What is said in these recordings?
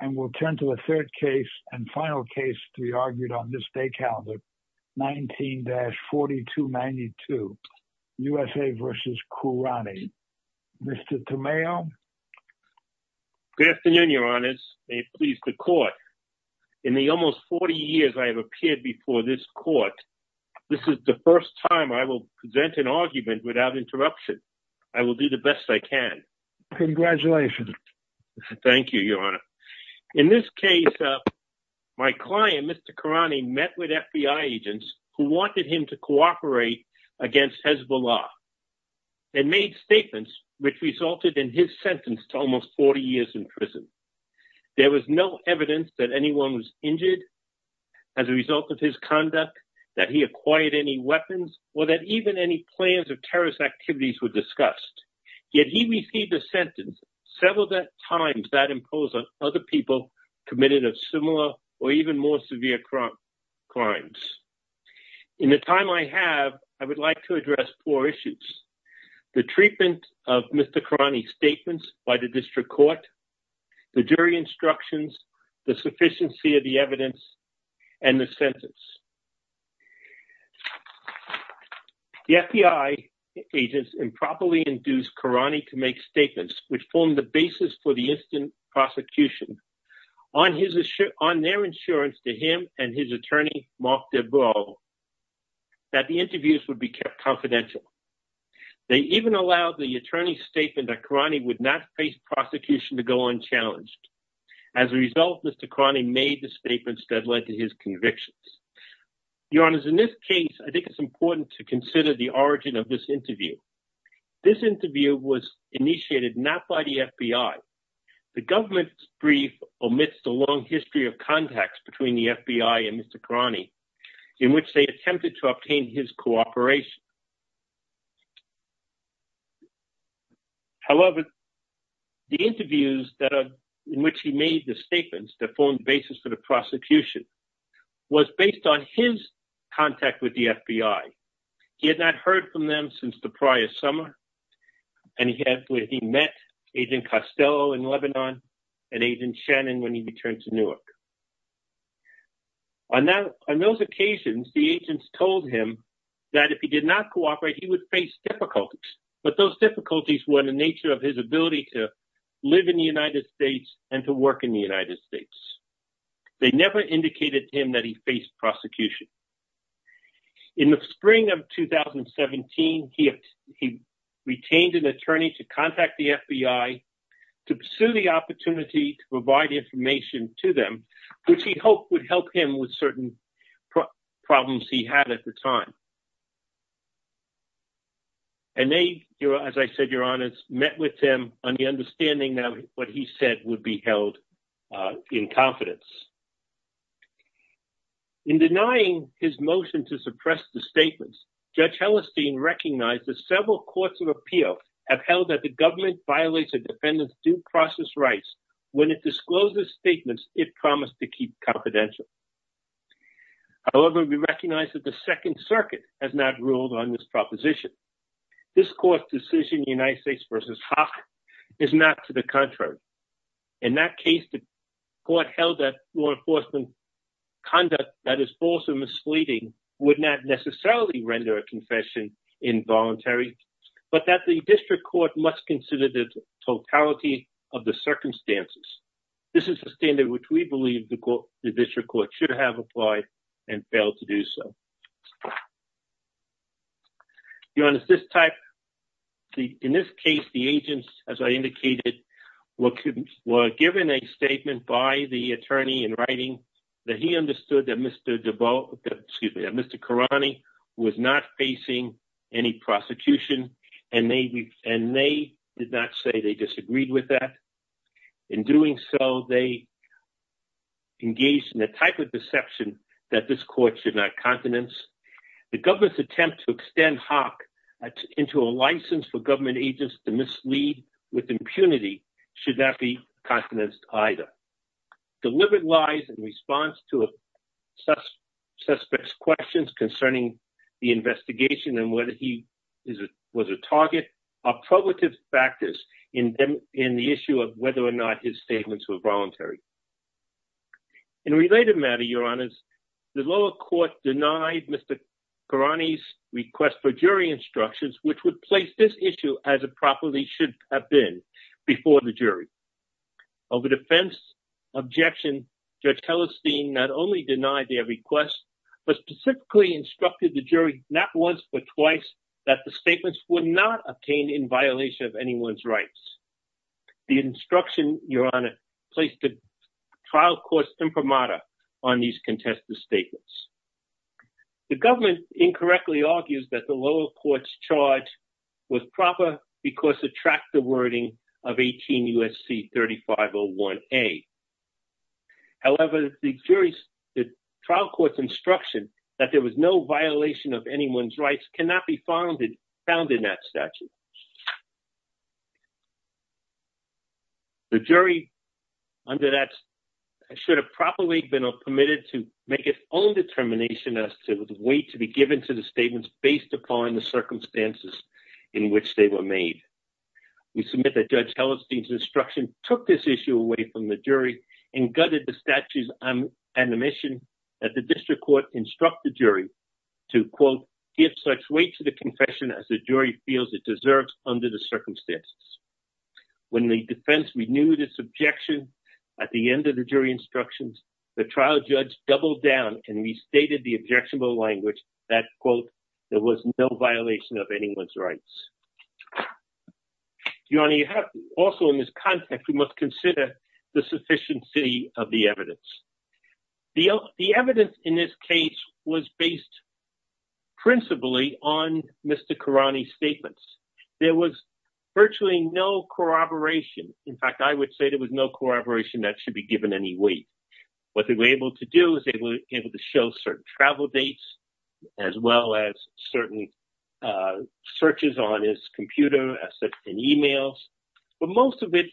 and we'll turn to the third case and final case to be argued on this day calendar 19-4292 USA v. Kourani. Mr. Tomeo. Good afternoon, your honors. May it please the court. In the almost 40 years I have appeared before this court, this is the first time I will present an argument without interruption. I will do the best I can. Congratulations. Thank you, your honor. In this case, my client, Mr. Kourani met with FBI agents who wanted him to cooperate against Hezbollah and made statements which resulted in his sentence to almost 40 years in prison. There was no evidence that anyone was injured as a result of his conduct, that he acquired any or that even any plans of terrorist activities were discussed. Yet he received a sentence several times that imposed on other people committed of similar or even more severe crimes. In the time I have, I would like to address four issues. The treatment of Mr. Kourani's statements by the district court, the jury instructions, the sufficiency of the evidence and the sentence. The FBI agents improperly induced Kourani to make statements which formed the basis for the instant prosecution on their insurance to him and his attorney, Mark Debrow, that the interviews would be kept confidential. They even allowed the attorney's statement that Kourani would not face prosecution to go unchallenged. As a result, Mr. Kourani made statements that led to his convictions. Your Honor, in this case, I think it's important to consider the origin of this interview. This interview was initiated not by the FBI. The government's brief omits the long history of contacts between the FBI and Mr. Kourani in which they attempted to obtain his cooperation. However, the interviews in which he made the statements that formed the basis for the prosecution was based on his contact with the FBI. He had not heard from them since the prior summer, and he met Agent Costello in Lebanon and Agent Shannon when he returned to Newark. On those occasions, the agents told him that if he did not have any contact with the FBI, he would face difficulties. But those difficulties were the nature of his ability to live in the United States and to work in the United States. They never indicated to him that he faced prosecution. In the spring of 2017, he retained an attorney to contact the FBI to pursue the opportunity to provide information to them, which he hoped would help him with certain problems he had at the time. And they, as I said, met with him on the understanding that what he said would be held in confidence. In denying his motion to suppress the statements, Judge Hellerstein recognized that several courts of appeal have held that the government violates a defendant's due process rights when it discloses statements it promised to keep confidential. However, we recognize that Second Circuit has not ruled on this proposition. This court's decision, United States v. Haas, is not to the contrary. In that case, the court held that law enforcement conduct that is false and misleading would not necessarily render a confession involuntary, but that the district court must consider the totality of the circumstances. This is a standard which we believe the district court should have applied and failed to do so. In this case, the agents, as I indicated, were given a statement by the attorney in writing that he understood that Mr. Karani was not facing any prosecution, and they did not say they disagreed with that. In doing so, they engaged in a type of deception that this court should not countenance. The government's attempt to extend Haas into a license for government agents to mislead with impunity should not be countenanced either. Delivered lies in response to suspects' questions concerning the investigation and whether he was a target are probative factors in the issue of whether or not his statements were voluntary. In a related matter, your honors, the lower court denied Mr. Karani's request for jury instructions, which would place this issue as it properly should have been before the jury. Over defense objection, Judge Hellestein not only denied their request, but specifically instructed the jury not once but twice that the statements were not obtained in violation of anyone's rights. The instruction, your honor, placed the trial court's imprimatur on these contested statements. The government incorrectly argues that the lower court's charge was proper because it tracked the wording of 18 U.S.C. 3501A. However, the jury's trial court's instruction that there was no violation of anyone's rights cannot be found in that statute. The jury, under that, should have properly been permitted to make its own determination as to the weight to be given to the statements based upon the circumstances in which they were made. We submit that Judge Hellestein's instruction took this issue away from the jury and gutted the court to instruct the jury to, quote, give such weight to the confession as the jury feels it deserves under the circumstances. When the defense renewed its objection at the end of the jury instructions, the trial judge doubled down and restated the objectionable language that, quote, there was no violation of anyone's rights. Your honor, also in this context, we must consider the sufficiency of the evidence. The evidence in this case was based principally on Mr. Karani's statements. There was virtually no corroboration. In fact, I would say there was no corroboration that should be given any weight. What they were able to do is they were able to show certain travel dates as well as certain searches on his computer and emails. But most of it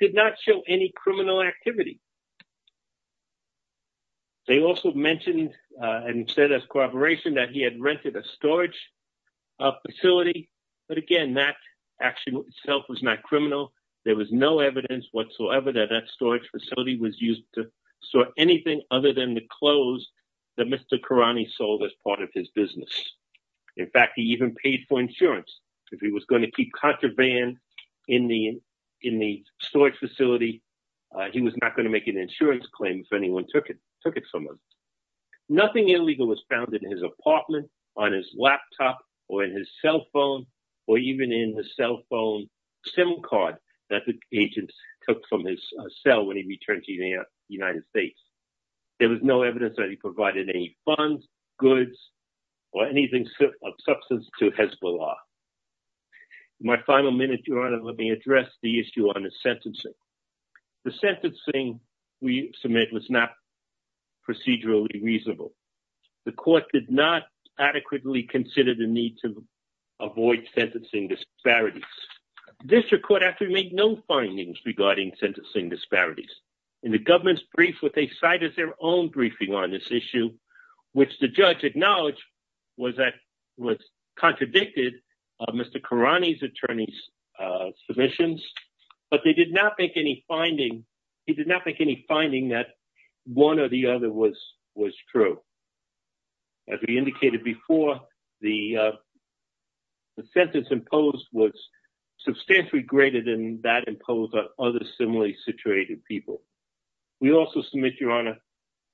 did not show any criminal activity. They also mentioned and said as corroboration that he had rented a storage facility. But again, that actually itself was not criminal. There was no evidence whatsoever that that storage facility was used to store anything other than the clothes that Mr. Karani sold as part of his business. In fact, he even paid for insurance if he was going to keep contraband in the storage facility. He was not going to make an insurance claim if anyone took it from him. Nothing illegal was found in his apartment, on his laptop, or in his cell phone, or even in the cell phone SIM card that the agent took from his cell when he returned to the United States. There was no evidence that he provided any funds, goods, or anything of substance to Hezbollah. In my final minute, Your Honor, let me address the issue on the sentencing. The sentencing we submit was not procedurally reasonable. The court did not adequately consider the need to avoid sentencing disparities. This court actually made no findings regarding sentencing disparities. In the government's brief, what they cite is their own briefing on this issue, which the judge acknowledged was that it was contradicted by Mr. Karani's attorney's submissions, but he did not make any finding that one or the other was true. As we indicated before, the sentence imposed was substantially greater than that imposed on other similarly situated people. We also submit, Your Honor,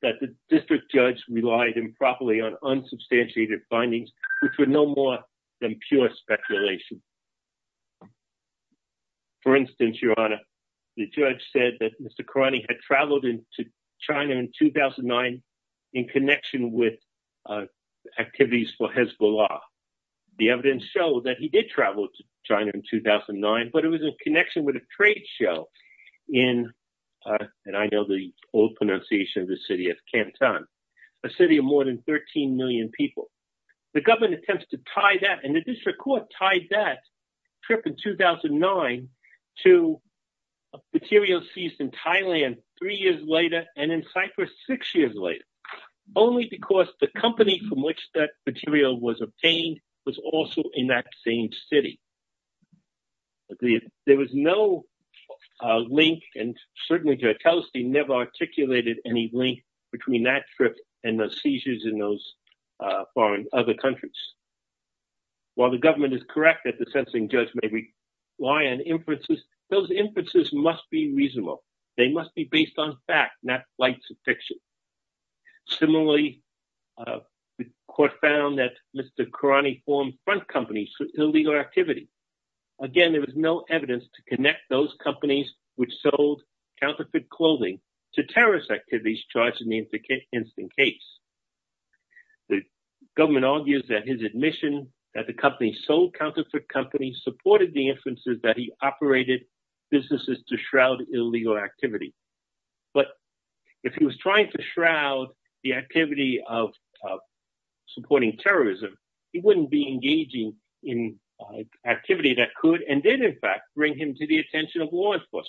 that the district judge relied improperly on unsubstantiated findings, which were no more than pure speculation. For instance, Your Honor, the judge said that Mr. Karani had traveled to China in 2009 in connection with activities for Hezbollah. The evidence showed that he did travel to China in 2009, but it was in connection with a trade show in, and I know the old pronunciation of the city of Canton, a city of more than 13 million people. The government attempts to tie that, and the district court tied that trip in 2009 to materials seized in Thailand three years later and in Cyprus six years later, only because the company from which that material was obtained was also in that same city. There was no link, and certainly Jerteliste never articulated any link between that trip and the seizures in those foreign other countries. While the government is correct that the sentencing judge may rely on inferences, those inferences must be reasonable. They must be based on fact, not flights of fiction. Similarly, the court found that Mr. Karani formed front companies for illegal activity. Again, there was no evidence to connect those companies which sold counterfeit clothing to terrorist activities charged in the incident case. The government argues that his admission that the company sold counterfeit companies supported the inferences that he operated businesses to shroud illegal activity. But if he was trying to shroud the activity of supporting terrorism, he wouldn't be engaging in activity that could and did in fact bring him to the attention of law enforcement.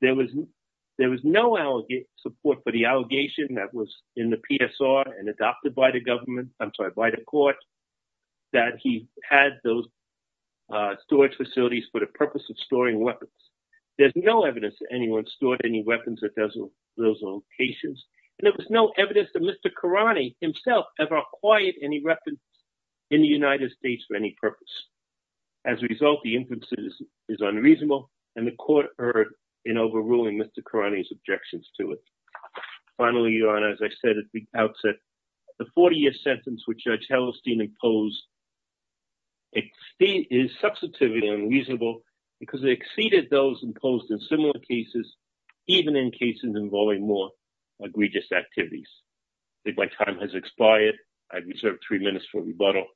There was no support for the allegation that was in the PSR and adopted by the government, I'm sorry, by the court that he had those storage facilities for the purpose of storing weapons. There's no evidence that anyone stored any weapons at those locations, and there was no evidence that Mr. Karani himself ever acquired any weapons in the United States for any purpose. As a result, the inference is unreasonable, and the court erred in overruling Mr. Karani's objections to it. Finally, Your Honor, as I said at the outset, the 40-year sentence which Judge Hellestein imposed is substantively unreasonable because it exceeded those imposed in similar cases, even in cases involving more egregious activities. I think my time has expired. I reserve three minutes for rebuttal.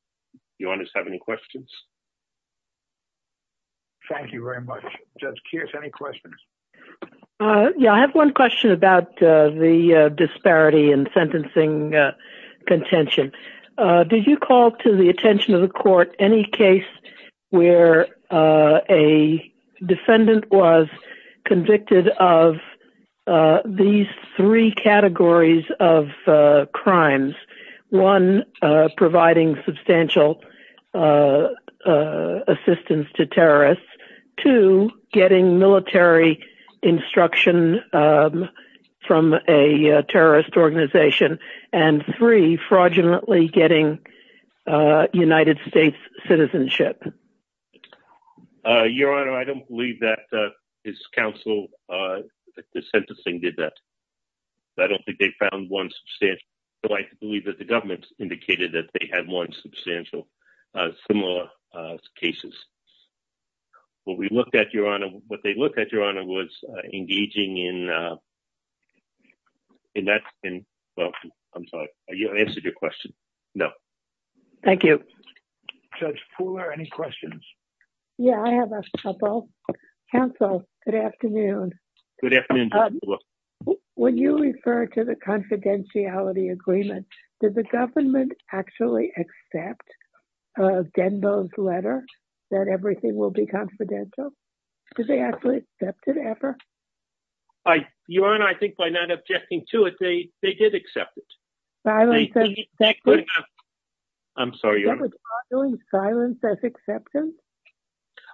Your Honor, do you have any questions? Thank you very much. Judge Kears, any questions? Yeah, I have one question about the disparity in sentencing contention. Did you call to the convicted of these three categories of crimes? One, providing substantial assistance to terrorists. Two, getting military instruction from a terrorist organization. And three, fraudulently getting United States citizenship. Your Honor, I don't believe that his counsel, the sentencing did that. I don't think they found one substantial. So I believe that the government indicated that they had one substantial similar cases. What we looked at, Your Honor, what they looked at, Your Honor, was engaging in that. I'm sorry. I answered your question. No. Thank you. Judge Fuller, any questions? Yeah, I have a couple. Counsel, good afternoon. When you refer to the confidentiality agreement, did the government actually accept Denbo's letter that everything will be confidential? Did they actually accept it ever? I, Your Honor, I think by not objecting to it, they did accept it. I'm sorry, Your Honor. Was there silence as acceptance?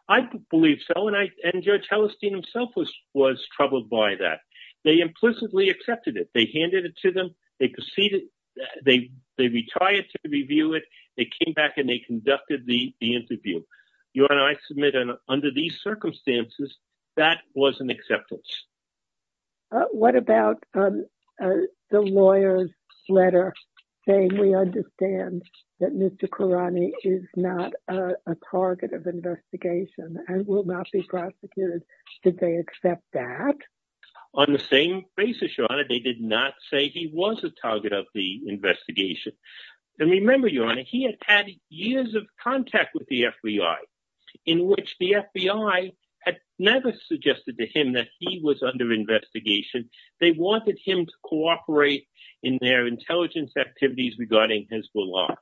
I believe so. And Judge Hellestein himself was troubled by that. They implicitly accepted it. They handed it to them. They proceeded. They retired to review it. They came back and they accepted it. What about the lawyer's letter saying we understand that Mr. Khurrani is not a target of investigation and will not be prosecuted? Did they accept that? On the same basis, Your Honor, they did not say he was a target of the investigation. Remember, Your Honor, he had had years of contact with the FBI in which the FBI had never suggested to him that he was under investigation. They wanted him to cooperate in their intelligence activities regarding his belongings.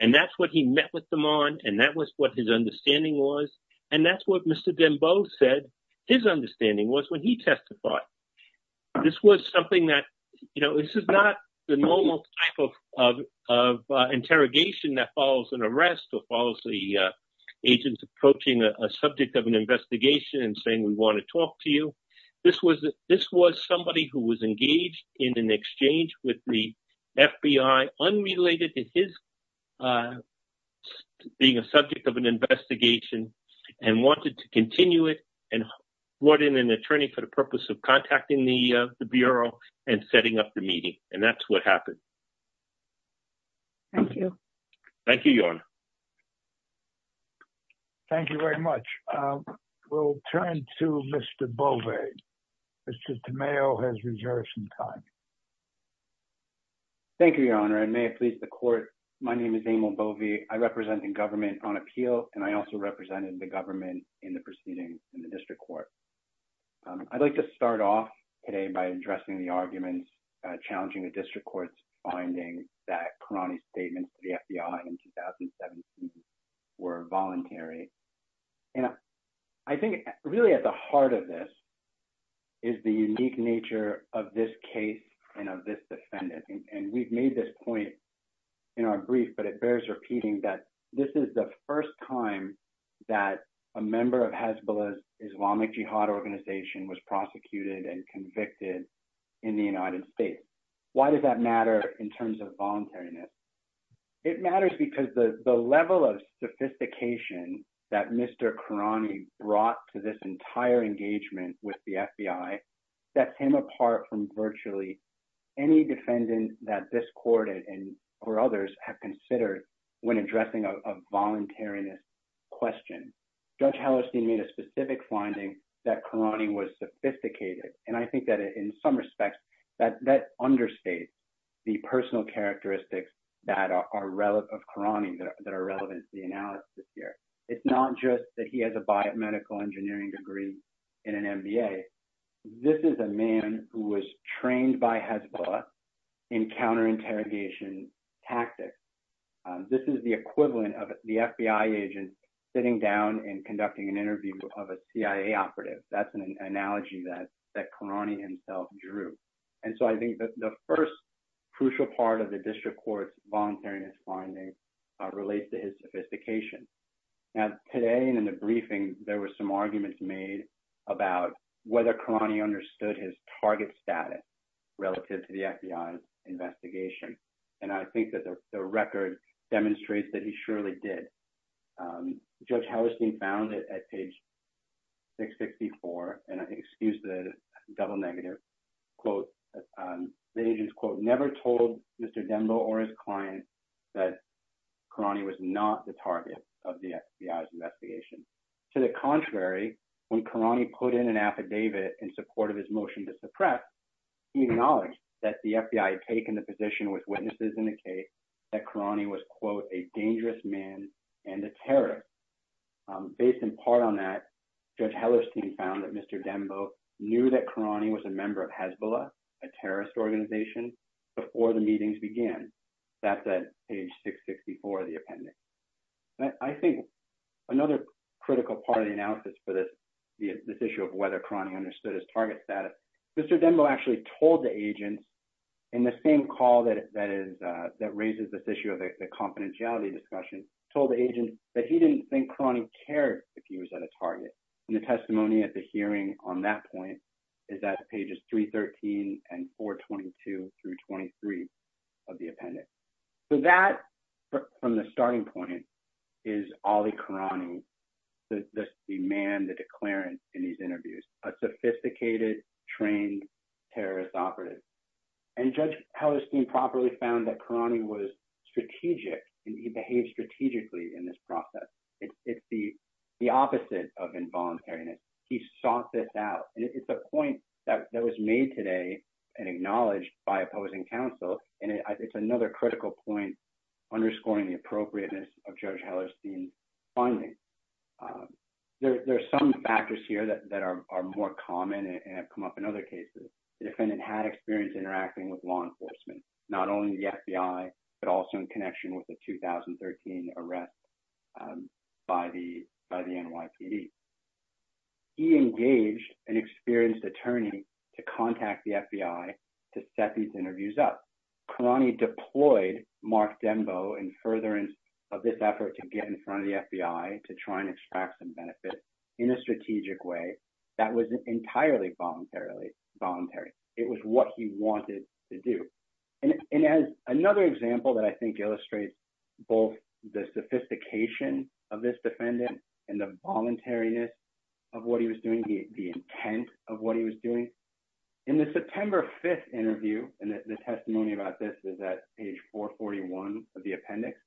And that's what he met with them on. And that was what his understanding was. And that's what Mr. Denbo said his understanding was when he testified. This was something that, you know, this is not the normal type of interrogation that follows an arrest or follows the agents approaching a subject of an investigation and saying we want to talk to you. This was this was somebody who was engaged in an exchange with the FBI unrelated to his being a subject of an investigation and wanted to continue it and brought in an attorney for the purpose of contacting the Bureau and setting up the meeting. And that's what happened. Thank you. Thank you, Your Honor. Thank you very much. We'll turn to Mr. Bove. Mr. Tamayo has reserved some time. Thank you, Your Honor, and may it please the court. My name is Emil Bove. I represent the government on appeal, and I also represented the government in the proceedings in the district court. I'd like to start off today by addressing the arguments challenging the district court's that statements to the FBI in 2017 were voluntary. And I think really at the heart of this is the unique nature of this case and of this defendant. And we've made this point in our brief, but it bears repeating that this is the first time that a member of Hezbollah's Islamic Jihad organization was prosecuted and convicted in the United States. Why does that in terms of voluntariness? It matters because the level of sophistication that Mr. Karani brought to this entire engagement with the FBI sets him apart from virtually any defendant that this court and or others have considered when addressing a voluntariness question. Judge Hallerstein made a specific finding that Karani was sophisticated. And I think that in some the personal characteristics of Karani that are relevant to the analysis here. It's not just that he has a biomedical engineering degree and an MBA. This is a man who was trained by Hezbollah in counter-interrogation tactics. This is the equivalent of the FBI agent sitting down and conducting an interview of a CIA operative. That's an analogy that Karani himself drew. And so I think that the first crucial part of the district court's voluntariness finding relates to his sophistication. And today in the briefing, there were some arguments made about whether Karani understood his target status relative to the FBI's investigation. And I think that the record demonstrates that he surely did. Judge Hallerstein found it at page 664. And excuse the double negative. The agent's quote, never told Mr. Dembo or his client that Karani was not the target of the FBI's investigation. To the contrary, when Karani put in an affidavit in support of his motion to suppress, he acknowledged that the FBI had taken the position with witnesses in the case that Karani was quote, a dangerous man and a terrorist. Based in part on that, Judge Hallerstein found that Mr. Dembo knew that Karani was a member of Hezbollah, a terrorist organization, before the meetings began. That's at page 664 of the appendix. And I think another critical part of the analysis for this issue of whether Karani understood his target status, Mr. Dembo actually told the agent in the same call that raises this confidentiality discussion, told the agent that he didn't think Karani cared if he was at a target. And the testimony at the hearing on that point is at pages 313 and 422 through 23 of the appendix. So that, from the starting point, is Ali Karani, the man, the declarant in these interviews, a sophisticated, trained terrorist operative. And Judge Hallerstein properly found that Karani was strategic, and he behaved strategically in this process. It's the opposite of involuntariness. He sought this out. And it's a point that was made today and acknowledged by opposing counsel. And it's another critical point, underscoring the appropriateness of Judge Hallerstein's finding. There's some factors here that are more common and have come up in other cases. The defendant had experience interacting with law enforcement, not only the FBI, but also in connection with the 2013 arrest by the NYPD. He engaged an experienced attorney to contact the FBI to set these interviews up. Karani deployed Mark Dembo in furtherance of this effort to get in front of the FBI to try and extract some benefits in a strategic way that was entirely voluntary. It was what he wanted to do. And as another example that I think illustrates both the sophistication of this defendant and the voluntariness of what he was doing, the intent of what he was doing, in the September 5th interview, and the testimony about this is at page 441 of the appendix,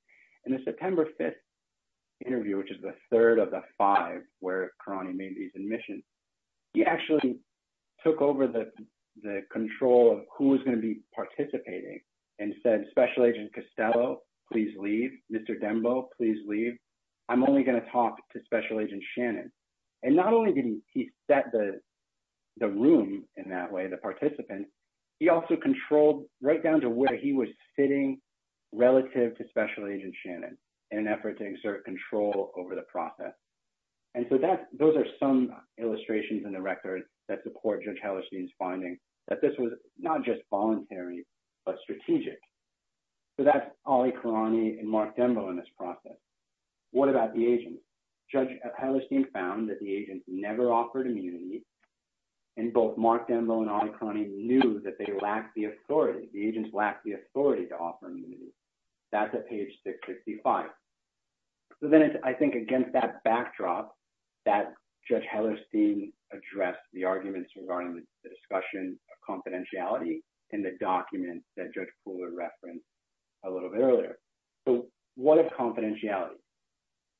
in the September 5th interview, which is the third of the five where Karani made these admissions, he actually took over the control of who was going to be participating and said, Special Agent Costello, please leave. Mr. Dembo, please leave. I'm only going to talk to Special Agent Shannon. And not only did he set the room in that way, the participants, he also controlled right down to where he was sitting relative to Special Agent Shannon in an effort to exert control over the process. And so those are some illustrations in the record that support Judge Hellerstein's finding that this was not just voluntary, but strategic. So that's Ali Karani and Mark Dembo in this process. What about the agents? Judge Hellerstein found that the agents never offered immunity. And both Mark Dembo and Ali Karani knew that they lacked the authority, the agents lacked the authority to offer immunity. That's at page 665. So then I think against that backdrop, that Judge Hellerstein addressed the arguments regarding the discussion of confidentiality in the document that Judge Fuller referenced a little bit earlier. So what of confidentiality?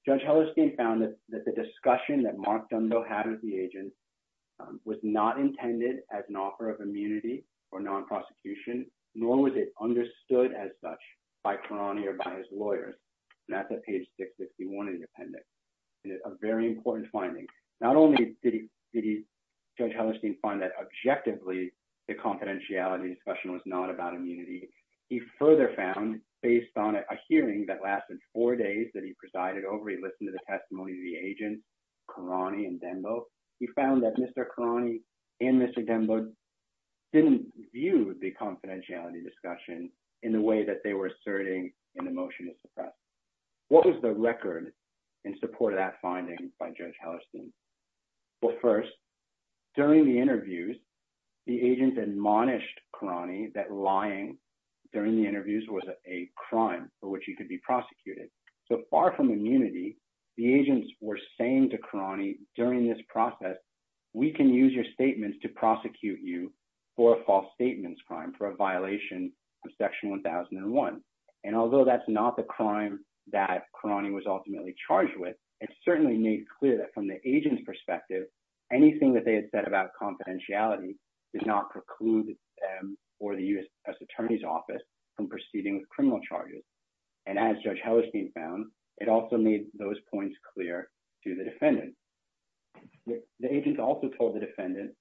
Judge Hellerstein found that the discussion that Mark Dembo had with the agents was not intended as an offer of immunity or non-prosecution, nor was it understood as such by Karani or by his lawyers. And that's at page 651 in the appendix. And it's a very important finding. Not only did Judge Hellerstein find that objectively the confidentiality discussion was not about immunity, he further found based on a hearing that lasted four days that he presided over, he listened to the testimony of the agents, Karani and Dembo. He found that Mr. Karani and Mr. Dembo didn't view the confidentiality discussion in the way that they were asserting in the motion to suppress. What was the record in support of that finding by Judge Hellerstein? Well, first, during the interviews, the agents admonished Karani that lying during the interviews was a crime for immunity. The agents were saying to Karani during this process, we can use your statements to prosecute you for a false statements crime, for a violation of section 1001. And although that's not the crime that Karani was ultimately charged with, it's certainly made clear that from the agent's perspective, anything that they had said about confidentiality did not preclude for the U.S. Attorney's Office from proceeding with criminal charges. And as Judge Hellerstein found, it also made those points clear to the defendant. The agents also told the defendant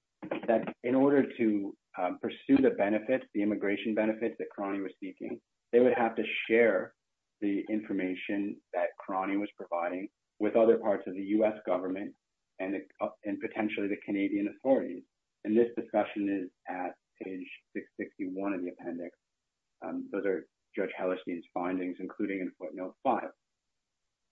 that in order to pursue the benefits, the immigration benefits that Karani was seeking, they would have to share the information that Karani was providing with other parts of the U.S. government and potentially the Canadian authorities. And this discussion is at page 661 in the appendix. Those are Judge Hellerstein's findings, including in footnote 5.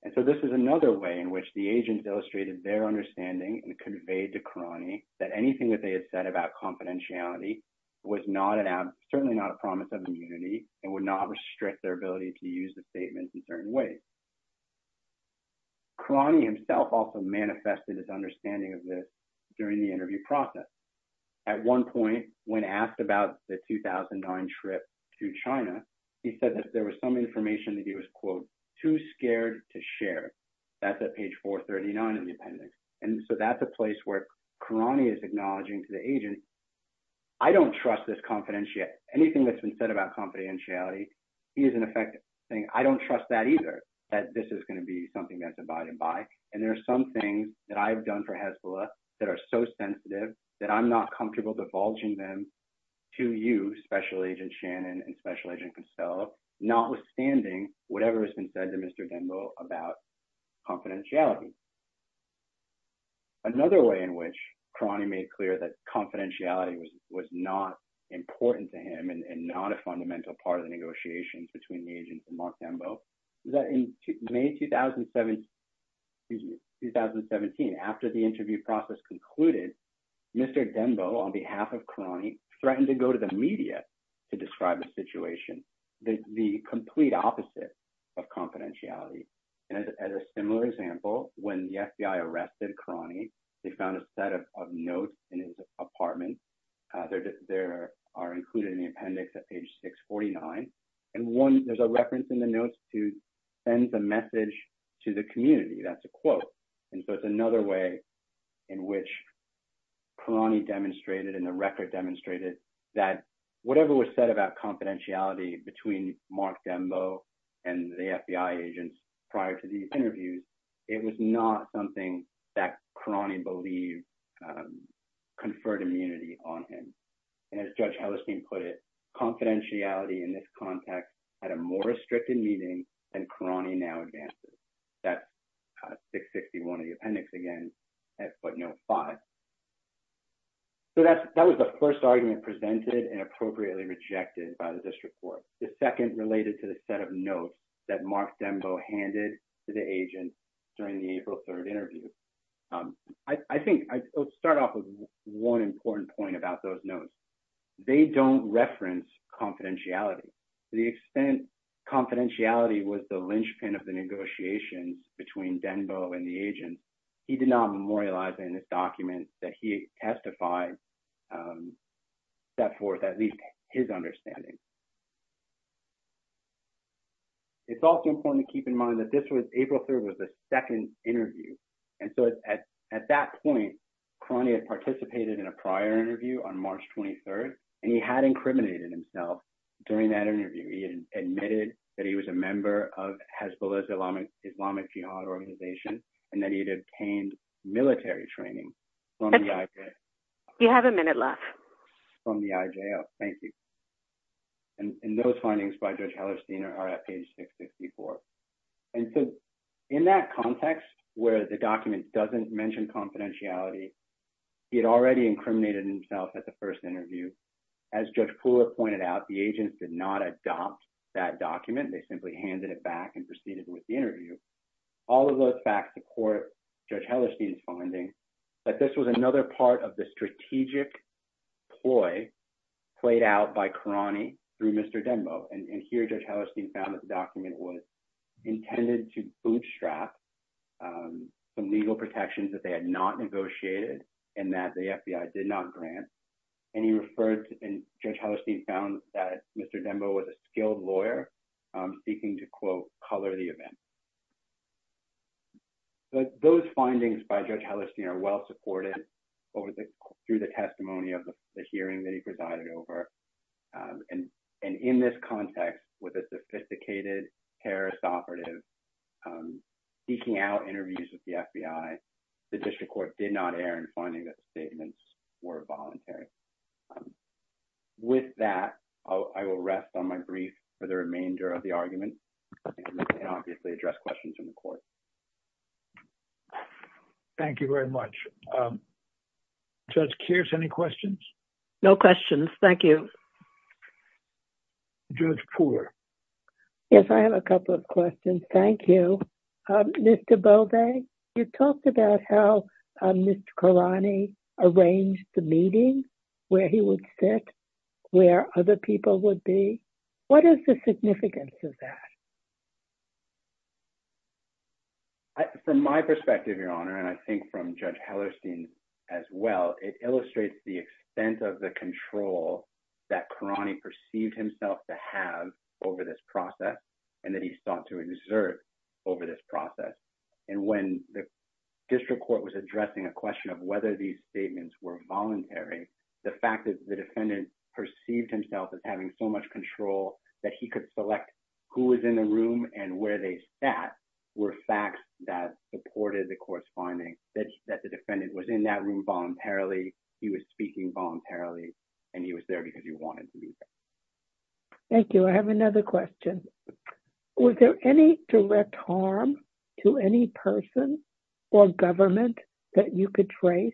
And so this is another way in which the agents illustrated their understanding and conveyed to Karani that anything that they had said about confidentiality was not an, certainly not a promise of immunity and would not restrict their ability to use the statements in certain ways. Karani himself also manifested his understanding of this during the interview process. At one point, when asked about the 2009 trip to China, he said that there was some information that he was, quote, too scared to share. That's at page 439 in the appendix. And so that's a place where Karani is acknowledging to the agents, I don't trust this confidentiality. Anything that's been said about confidentiality, he is in effect saying, I don't trust that either, that this is going to be something that's a buy-to-buy. And there are some things that I've done for Hezbollah that are so sensitive that I'm not comfortable divulging them to you, Special Agent Shannon and Special Agent Costello, notwithstanding whatever has been said to Mr. Denbo about confidentiality. Another way in which Karani made clear that confidentiality was not important to him and not a fundamental part of the negotiations between the agents and Mark Denbo is that in May 2017, excuse me, 2017, after the interview process concluded, Mr. Denbo, on behalf of Karani, threatened to go to the media to describe the situation, the complete opposite of confidentiality. And as a similar example, when the FBI arrested Karani, they found a set of notes in his apartment. They are included in the appendix at page 649. And one, there's a reference in the quote. And so it's another way in which Karani demonstrated and the record demonstrated that whatever was said about confidentiality between Mark Denbo and the FBI agents prior to these interviews, it was not something that Karani believed conferred immunity on him. And as Judge Hellestein put it, confidentiality in this context had a more restricted meaning than Karani now advances. That's 661 of the appendix again at footnote five. So that was the first argument presented and appropriately rejected by the district court. The second related to the set of notes that Mark Denbo handed to the agents during the April 3rd interview. I think I'll start off with one important point about those notes. They don't reference confidentiality to the extent confidentiality was the linchpin of the negotiations between Denbo and the agents. He did not memorialize in his documents that he testified that for at least his understanding. It's also important to keep in mind that this was April 3rd was the second interview. And so at that point Karani had participated in a prior interview on March 23rd and he had incriminated himself during that interview. He had admitted that he was a member of Hezbollah's Islamic Jihad organization and that he had obtained military training from the IJL. You have a minute left. From the IJL. Thank you. And those findings by Judge Hellestein are at page 664. And so in that context where the document doesn't mention confidentiality he had already incriminated himself at the first interview. As Judge Pooler pointed out the agents did not adopt that document. They simply handed it back and proceeded with the interview. All of those facts support Judge Hellestein's findings that this was another part of the strategic ploy played out by Karani through Mr. Denbo. And here Judge Hellestein found that the intended to bootstrap some legal protections that they had not negotiated and that the FBI did not grant. And he referred to and Judge Hellestein found that Mr. Denbo was a skilled lawyer seeking to quote color the event. But those findings by Judge Hellestein are well supported through the testimony of the hearing that he presided over. And in this context with a operative seeking out interviews with the FBI the district court did not err in finding that the statements were voluntary. With that I will rest on my brief for the remainder of the argument and obviously address questions in the court. Thank you very much. Judge Kearse any questions? No questions. Thank you. Judge Pooler. Yes I have a couple of questions. Thank you. Mr. Beaudet you talked about how Mr. Karani arranged the meeting where he would sit where other people would be. What is the significance of that? From my perspective your honor and I think from Judge Hellerstein as well it illustrates the extent of the control that Karani perceived himself to have over this process and that he sought to exert over this process. And when the district court was addressing a question of whether these statements were voluntary the fact that the defendant perceived himself as having so much control that he could select who was in the room and where they sat were facts that supported the court's finding that the defendant was in that room voluntarily. He was speaking voluntarily and he was there because he wanted to be there. Thank you. I have another question. Was there any direct harm to any person or government that you could trace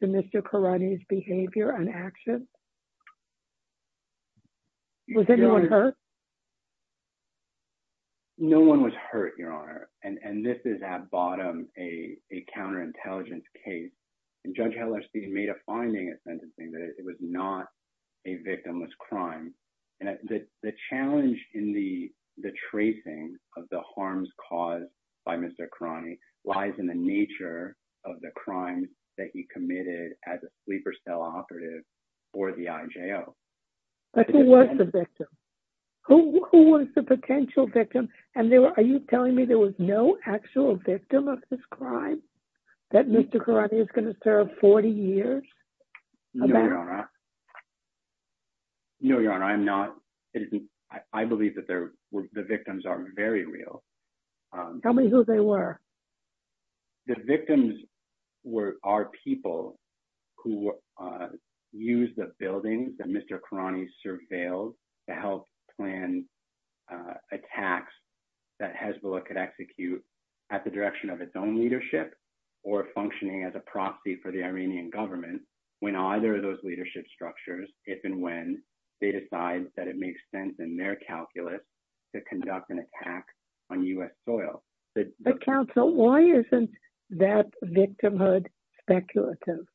to Mr. Karani's behavior and action? Was anyone hurt? No one was hurt your honor. And this is at bottom a counterintelligence case and Judge Hellerstein made a finding at sentencing that it was not a victimless crime. And the challenge in the the tracing of the harms caused by Mr. Karani lies in the nature of the crimes that he committed as a sleeper cell operative for the IJO. But who was the victim? Who was the potential victim? And are you telling me there was no actual victim of this crime that Mr. Karani is going to serve 40 years? No your honor I'm not. I believe that there are people who use the buildings that Mr. Karani surveilled to help plan attacks that Hezbollah could execute at the direction of its own leadership or functioning as a proxy for the Iranian government when either of those leadership structures if and when they decide that it makes sense in their calculus to conduct an attack on U.S. soil. But counsel why isn't that victimhood speculative?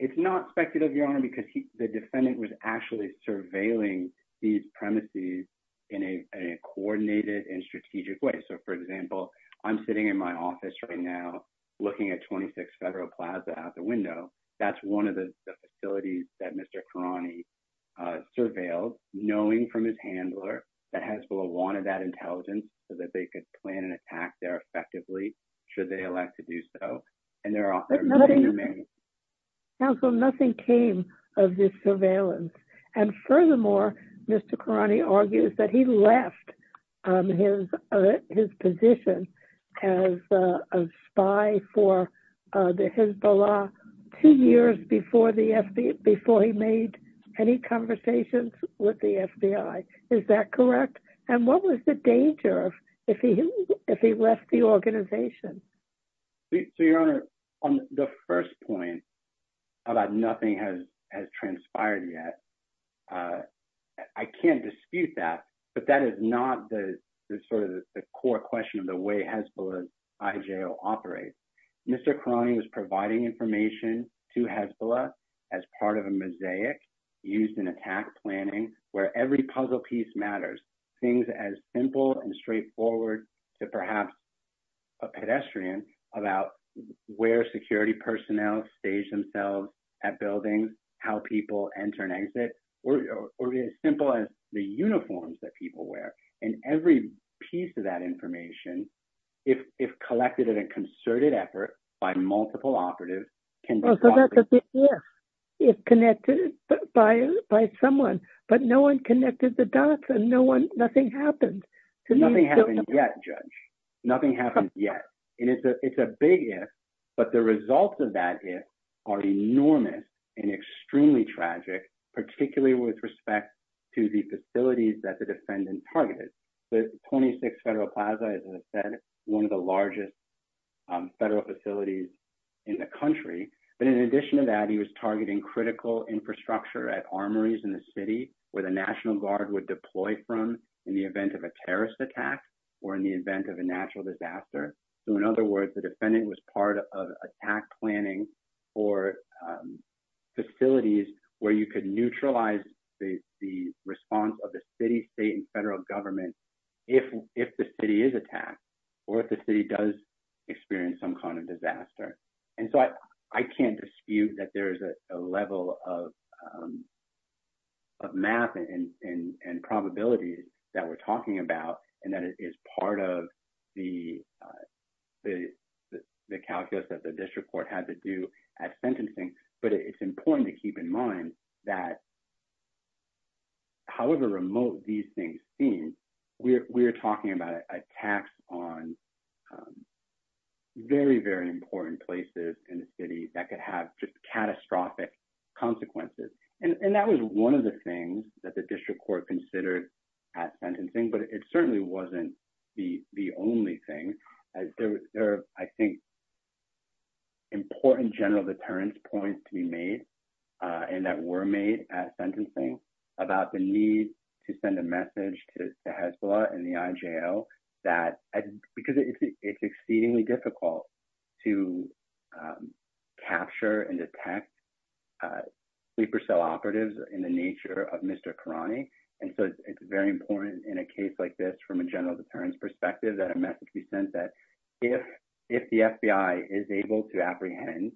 It's not speculative your honor because the defendant was actually surveilling these premises in a coordinated and strategic way. So for example I'm sitting in my office right now looking at 26 Federal Plaza out the window. That's one of the facilities that Mr. Karani surveilled knowing from his handler that Hezbollah wanted that intelligence so that they could plan an attack there effectively should they elect to do so. Counsel nothing came of this surveillance and furthermore Mr. Karani argues that he left his position as a spy for Hezbollah two years before he made any conversations with the FBI. Is that correct? And what was the danger if he left the organization? So your honor on the first point about nothing has transpired yet I can't dispute that but that is not the sort of the core question of the way Hezbollah's IJL operates. Mr. Karani was providing information to Hezbollah as part of a mosaic used in attack planning where every puzzle piece matters. Things as simple and straightforward to perhaps a pedestrian about where security personnel stage themselves at buildings how people enter and exit or as simple as the uniforms that people wear and every piece of that information if collected in a concerted effort by multiple operatives. So that's a big if if connected by someone but no one connected the dots and no one nothing happened. Nothing happened yet judge nothing happened yet and it's a it's a big if but the results of that if are enormous and extremely tragic particularly with respect to the facilities that the defendant targeted. The 26 Federal Plaza is one of the largest federal facilities in the country but in addition to that he was targeting critical infrastructure at armories in the city where the National Guard would deploy from in the event of a terrorist attack or in the event of a natural disaster. So in other words the defendant was part of attack planning for facilities where you could neutralize the the response of the city state and federal government if if the city is attacked or if the city does experience some kind of disaster. And so I I can't dispute that there is a level of of math and and and probabilities that we're part of the the the calculus that the district court had to do at sentencing but it's important to keep in mind that however remote these things seem we're we're talking about attacks on very very important places in the city that could have just catastrophic consequences. And and that was one of the things that the district court considered at sentencing but it certainly wasn't the the only thing as there were I think important general deterrence points to be made and that were made at sentencing about the need to send a message to Hezbollah and the IJL that because it's exceedingly difficult to capture and detect sleeper cell operatives in the nature of Mr. Karani and so it's very important in a case like this from a general deterrence perspective that a message be sent that if if the FBI is able to apprehend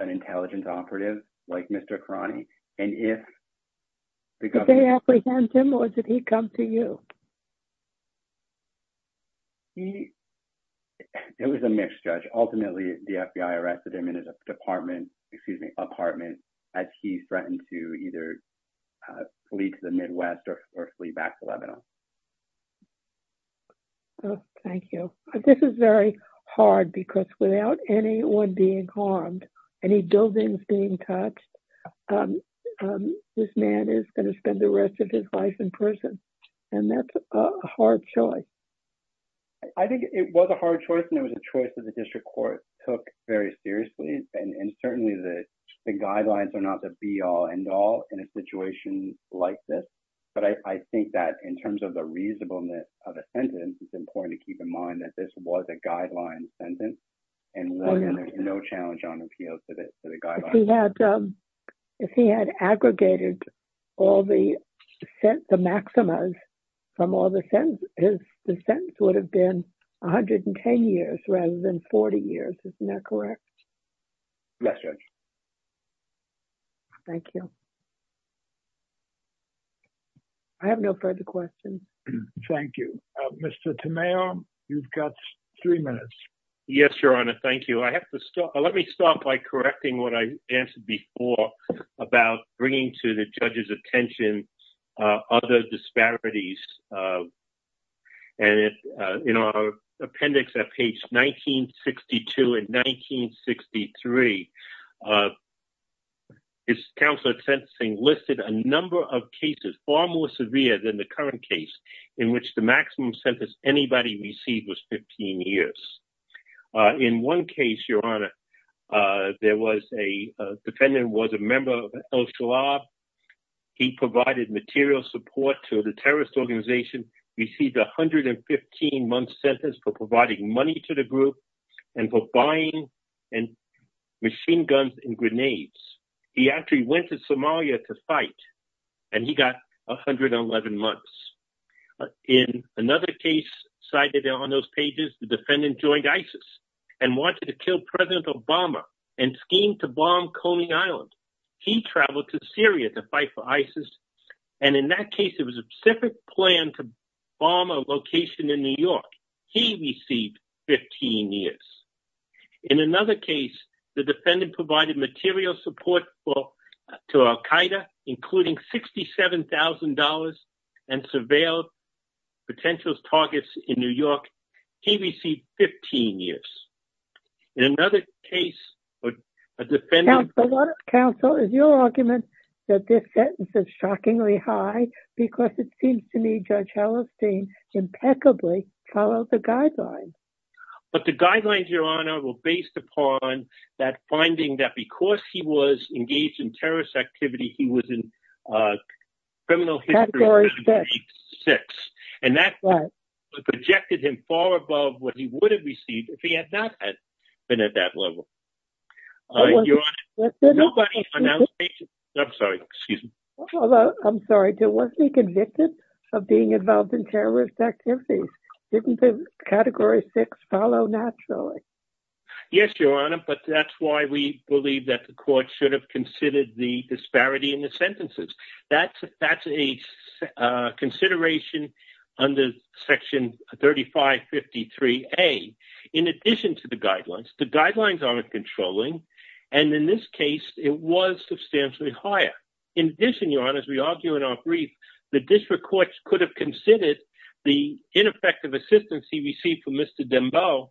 an intelligence operative like Mr. Karani and if they apprehend him or did he come to you? He it was a mixed judge ultimately the FBI arrested him in his department excuse me apartment as he threatened to either flee to the Midwest or flee back to Lebanon. Oh thank you this is very hard because without anyone being harmed any buildings being touched this man is going to spend the rest of his life in prison and that's a hard choice. I think it was a hard choice and it was a choice that the district court took very seriously and certainly the guidelines are not the be-all-end-all in a situation like this but I think that in terms of the reasonableness of a sentence it's important to keep in mind that this was a guideline sentence and there's no challenge on appeal to this to the guidelines. If he had aggregated all the maximas from all the sentences the sentence would have been 110 years rather than 40 years isn't that correct? Yes Judge. Thank you. I have no further questions. Thank you. Mr. Tamayo you've got three minutes. Yes Your Honor thank you I have to stop let me start by correcting what I answered before about bringing to the appendix at page 1962 and 1963. His counsel at sentencing listed a number of cases far more severe than the current case in which the maximum sentence anybody received was 15 years. In one case Your Honor there was a defendant was a member of El Shalab he provided material support to the terrorist organization received 115 month sentence for providing money to the group and for buying machine guns and grenades. He actually went to Somalia to fight and he got 111 months. In another case cited on those pages the defendant joined ISIS and wanted to kill President Obama and scheme to bomb Coney Island. He traveled to Syria to fight for ISIS and in it was a specific plan to bomb a location in New York. He received 15 years. In another case the defendant provided material support for to Al Qaeda including $67,000 and surveilled potential targets in New York. He received 15 years. In another case a defendant counsel is your argument that this sentence is shockingly high because it seems to me Judge Hallerstein impeccably followed the guidelines. But the guidelines Your Honor were based upon that finding that because he was engaged in terrorist activity he was in criminal history six and that projected him far above what he would have received if he had not been at that level. I'm sorry I'm sorry there wasn't a convicted of being involved in terrorist activities. Didn't the category six follow naturally? Yes Your Honor but that's why we believe that the court should have considered the disparity in the sentences. That's that's a consideration under section 3553A. In addition to the guidelines the guidelines aren't controlling and in this case it was substantially higher. In addition Your Honor as we argue in our brief the district courts could have considered the ineffective assistance he received from Mr. Dembele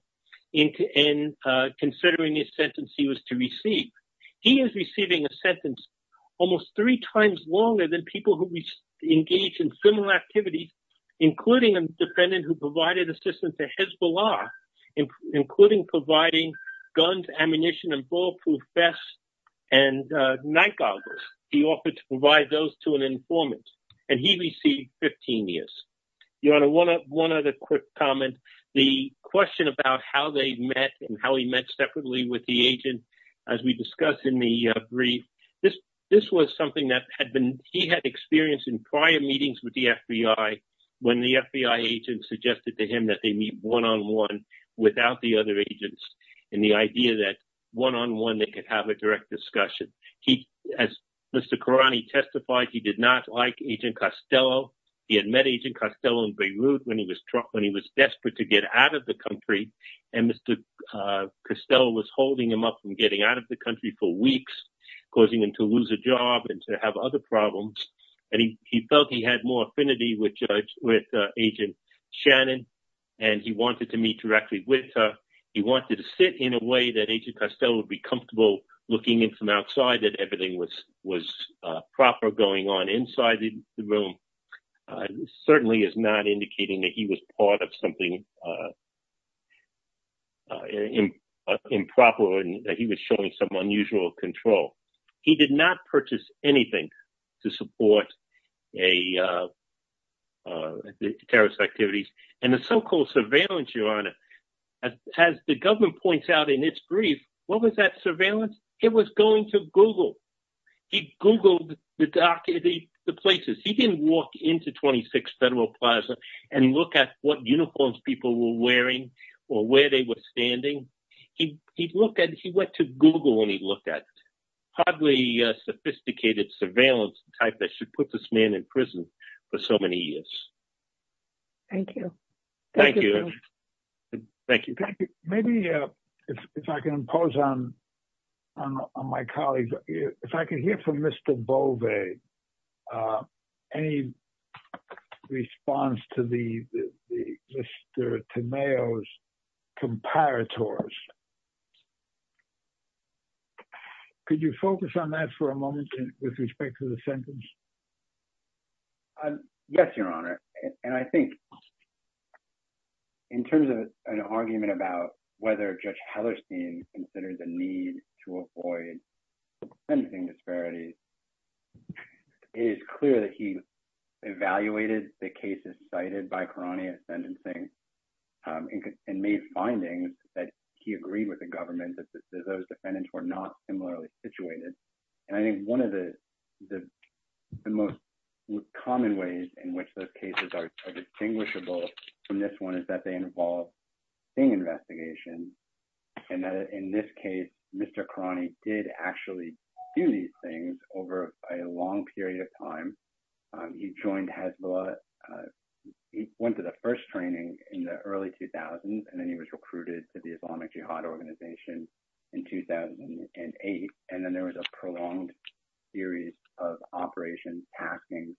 in considering his sentence he was to receive. He is receiving a sentence almost three times longer than people who engage in similar activities including a defendant who provided assistance to Hezbollah including providing guns ammunition and ballproof vests and nightgoggles. He offered to provide those to an informant and he received 15 years. Your Honor one other quick comment the question about how they met and how he met separately with the agent as we discussed in the brief. This was something that had been he had experienced in prior meetings with the FBI when the FBI agent suggested to him that they meet one-on-one without the other agents and the idea that one-on-one they could have a direct discussion. He as Mr. Karani testified he did not like agent Costello. He had met agent Costello in Beirut when he was desperate to get out of the country and Mr. Costello was holding him up from getting out of the country for weeks causing him to lose a job and to have other problems and he felt he had more affinity with agent Shannon and he wanted to meet directly with her. He wanted to sit in a way that agent Costello would be comfortable looking in from outside that everything was was proper going on inside the room. It certainly is not indicating that he was part of something improper and that he was showing some unusual control. He did not purchase anything to support the terrorist activities and the so-called surveillance Your Honor as the government points out in its brief what was that surveillance it was going to Google. He Googled the places he didn't walk into 26 Federal Plaza and look at what uniforms people were wearing or where they were standing. He looked at he went to Google and he looked at hardly sophisticated surveillance type that should put this man in prison for so many years. Thank you. Thank you. Thank you. Thank you. Maybe if I can impose on my colleagues if I can hear from Mr. Bove any response to the Mr. Tameo's comparators. Could you focus on that for a moment with respect to the sentence? Yes, Your Honor, and I think in terms of an argument about whether Judge Hellerstein considered the need to avoid anything disparities is clear that he evaluated the cases cited by Karani of sentencing and made findings that he agreed with the government that those defendants were not similarly situated. And I think one of the most common ways in which those cases are distinguishable from this one is that they involve thing investigation. And in this case, Mr. Karani did actually do these things over a long period of time. He joined Hezbollah. He went to the first training in the early 2000s. And then he was recruited to the Islamic Jihad organization in 2008. And then there was a prolonged series of operations happening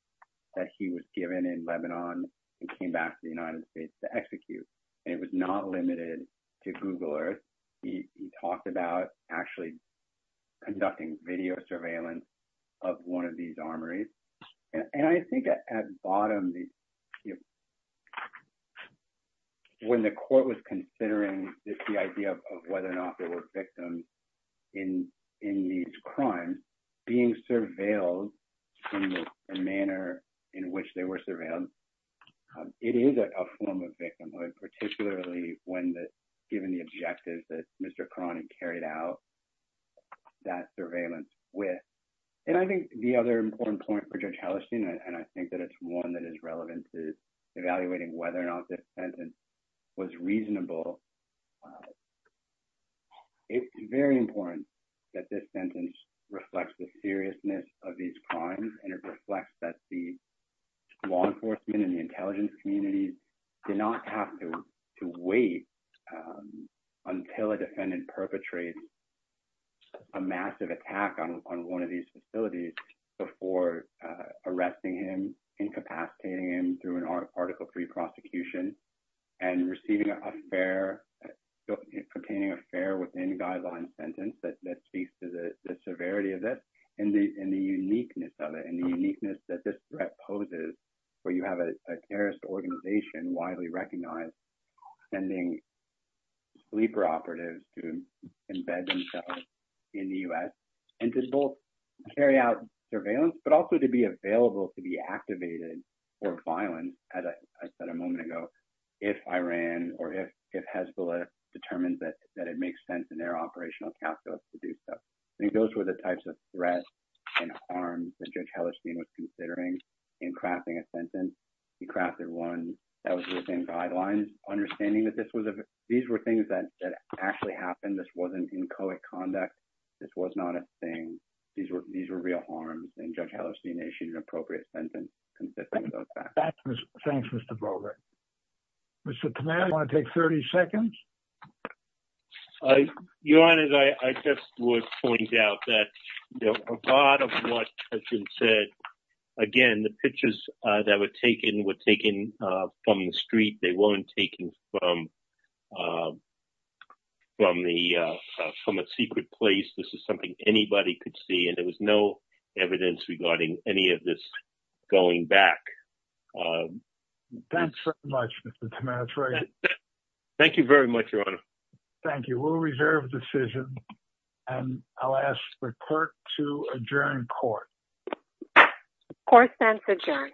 that he was given in Lebanon and came back to the United States to execute. And it was not limited to Google Earth. He talked about actually conducting video surveillance of one of these armories. And I think at bottom, when the court was considering the idea of whether or not there were victims in these crimes being surveilled in the manner in which they were surveilled, it is a form of victimhood, particularly when given the objectives that Mr. Karani carried out that surveillance with. And I think the other important point for Judge Hellestine, and I think that it's one that is relevant to evaluating whether or not this sentence was reasonable, it's very important that this sentence reflects the seriousness of these crimes and it reflects that the law enforcement and the intelligence communities do not have to wait until a defendant perpetrates a massive attack on one of these facilities before arresting him, incapacitating him through an article three prosecution, and receiving a fair, obtaining a fair within guidelines sentence that speaks to the severity of this and the uniqueness of it and the uniqueness that this threat poses where you have a terrorist organization widely recognized sending sleeper operatives to embed themselves in the U.S. and to both carry out surveillance, but also to be available to be activated for violence, as I said a moment ago, if Iran or if Hezbollah determines that it makes sense in their operational calculus to do so. I think those were the types of threats and harms that Judge Hellestine was considering in crafting a sentence. He crafted one that was within guidelines, understanding that these were things that actually happened. This wasn't inchoate conduct. This was not a thing. These were real harms, and Judge Hellestine issued an appropriate sentence consisting of those facts. Thanks, Mr. Brogan. Mr. Karnani, do you want to take 30 seconds? Your Honor, I just would point out that a lot of what has been said, again, the pictures that were taken were taken from the street. They weren't taken from a secret place. This is something anybody could see, and there was no evidence regarding any of this going back. Thank you very much, Your Honor. Thank you. We'll reserve the decision, and I'll ask the court to adjourn court. Court stands adjourned.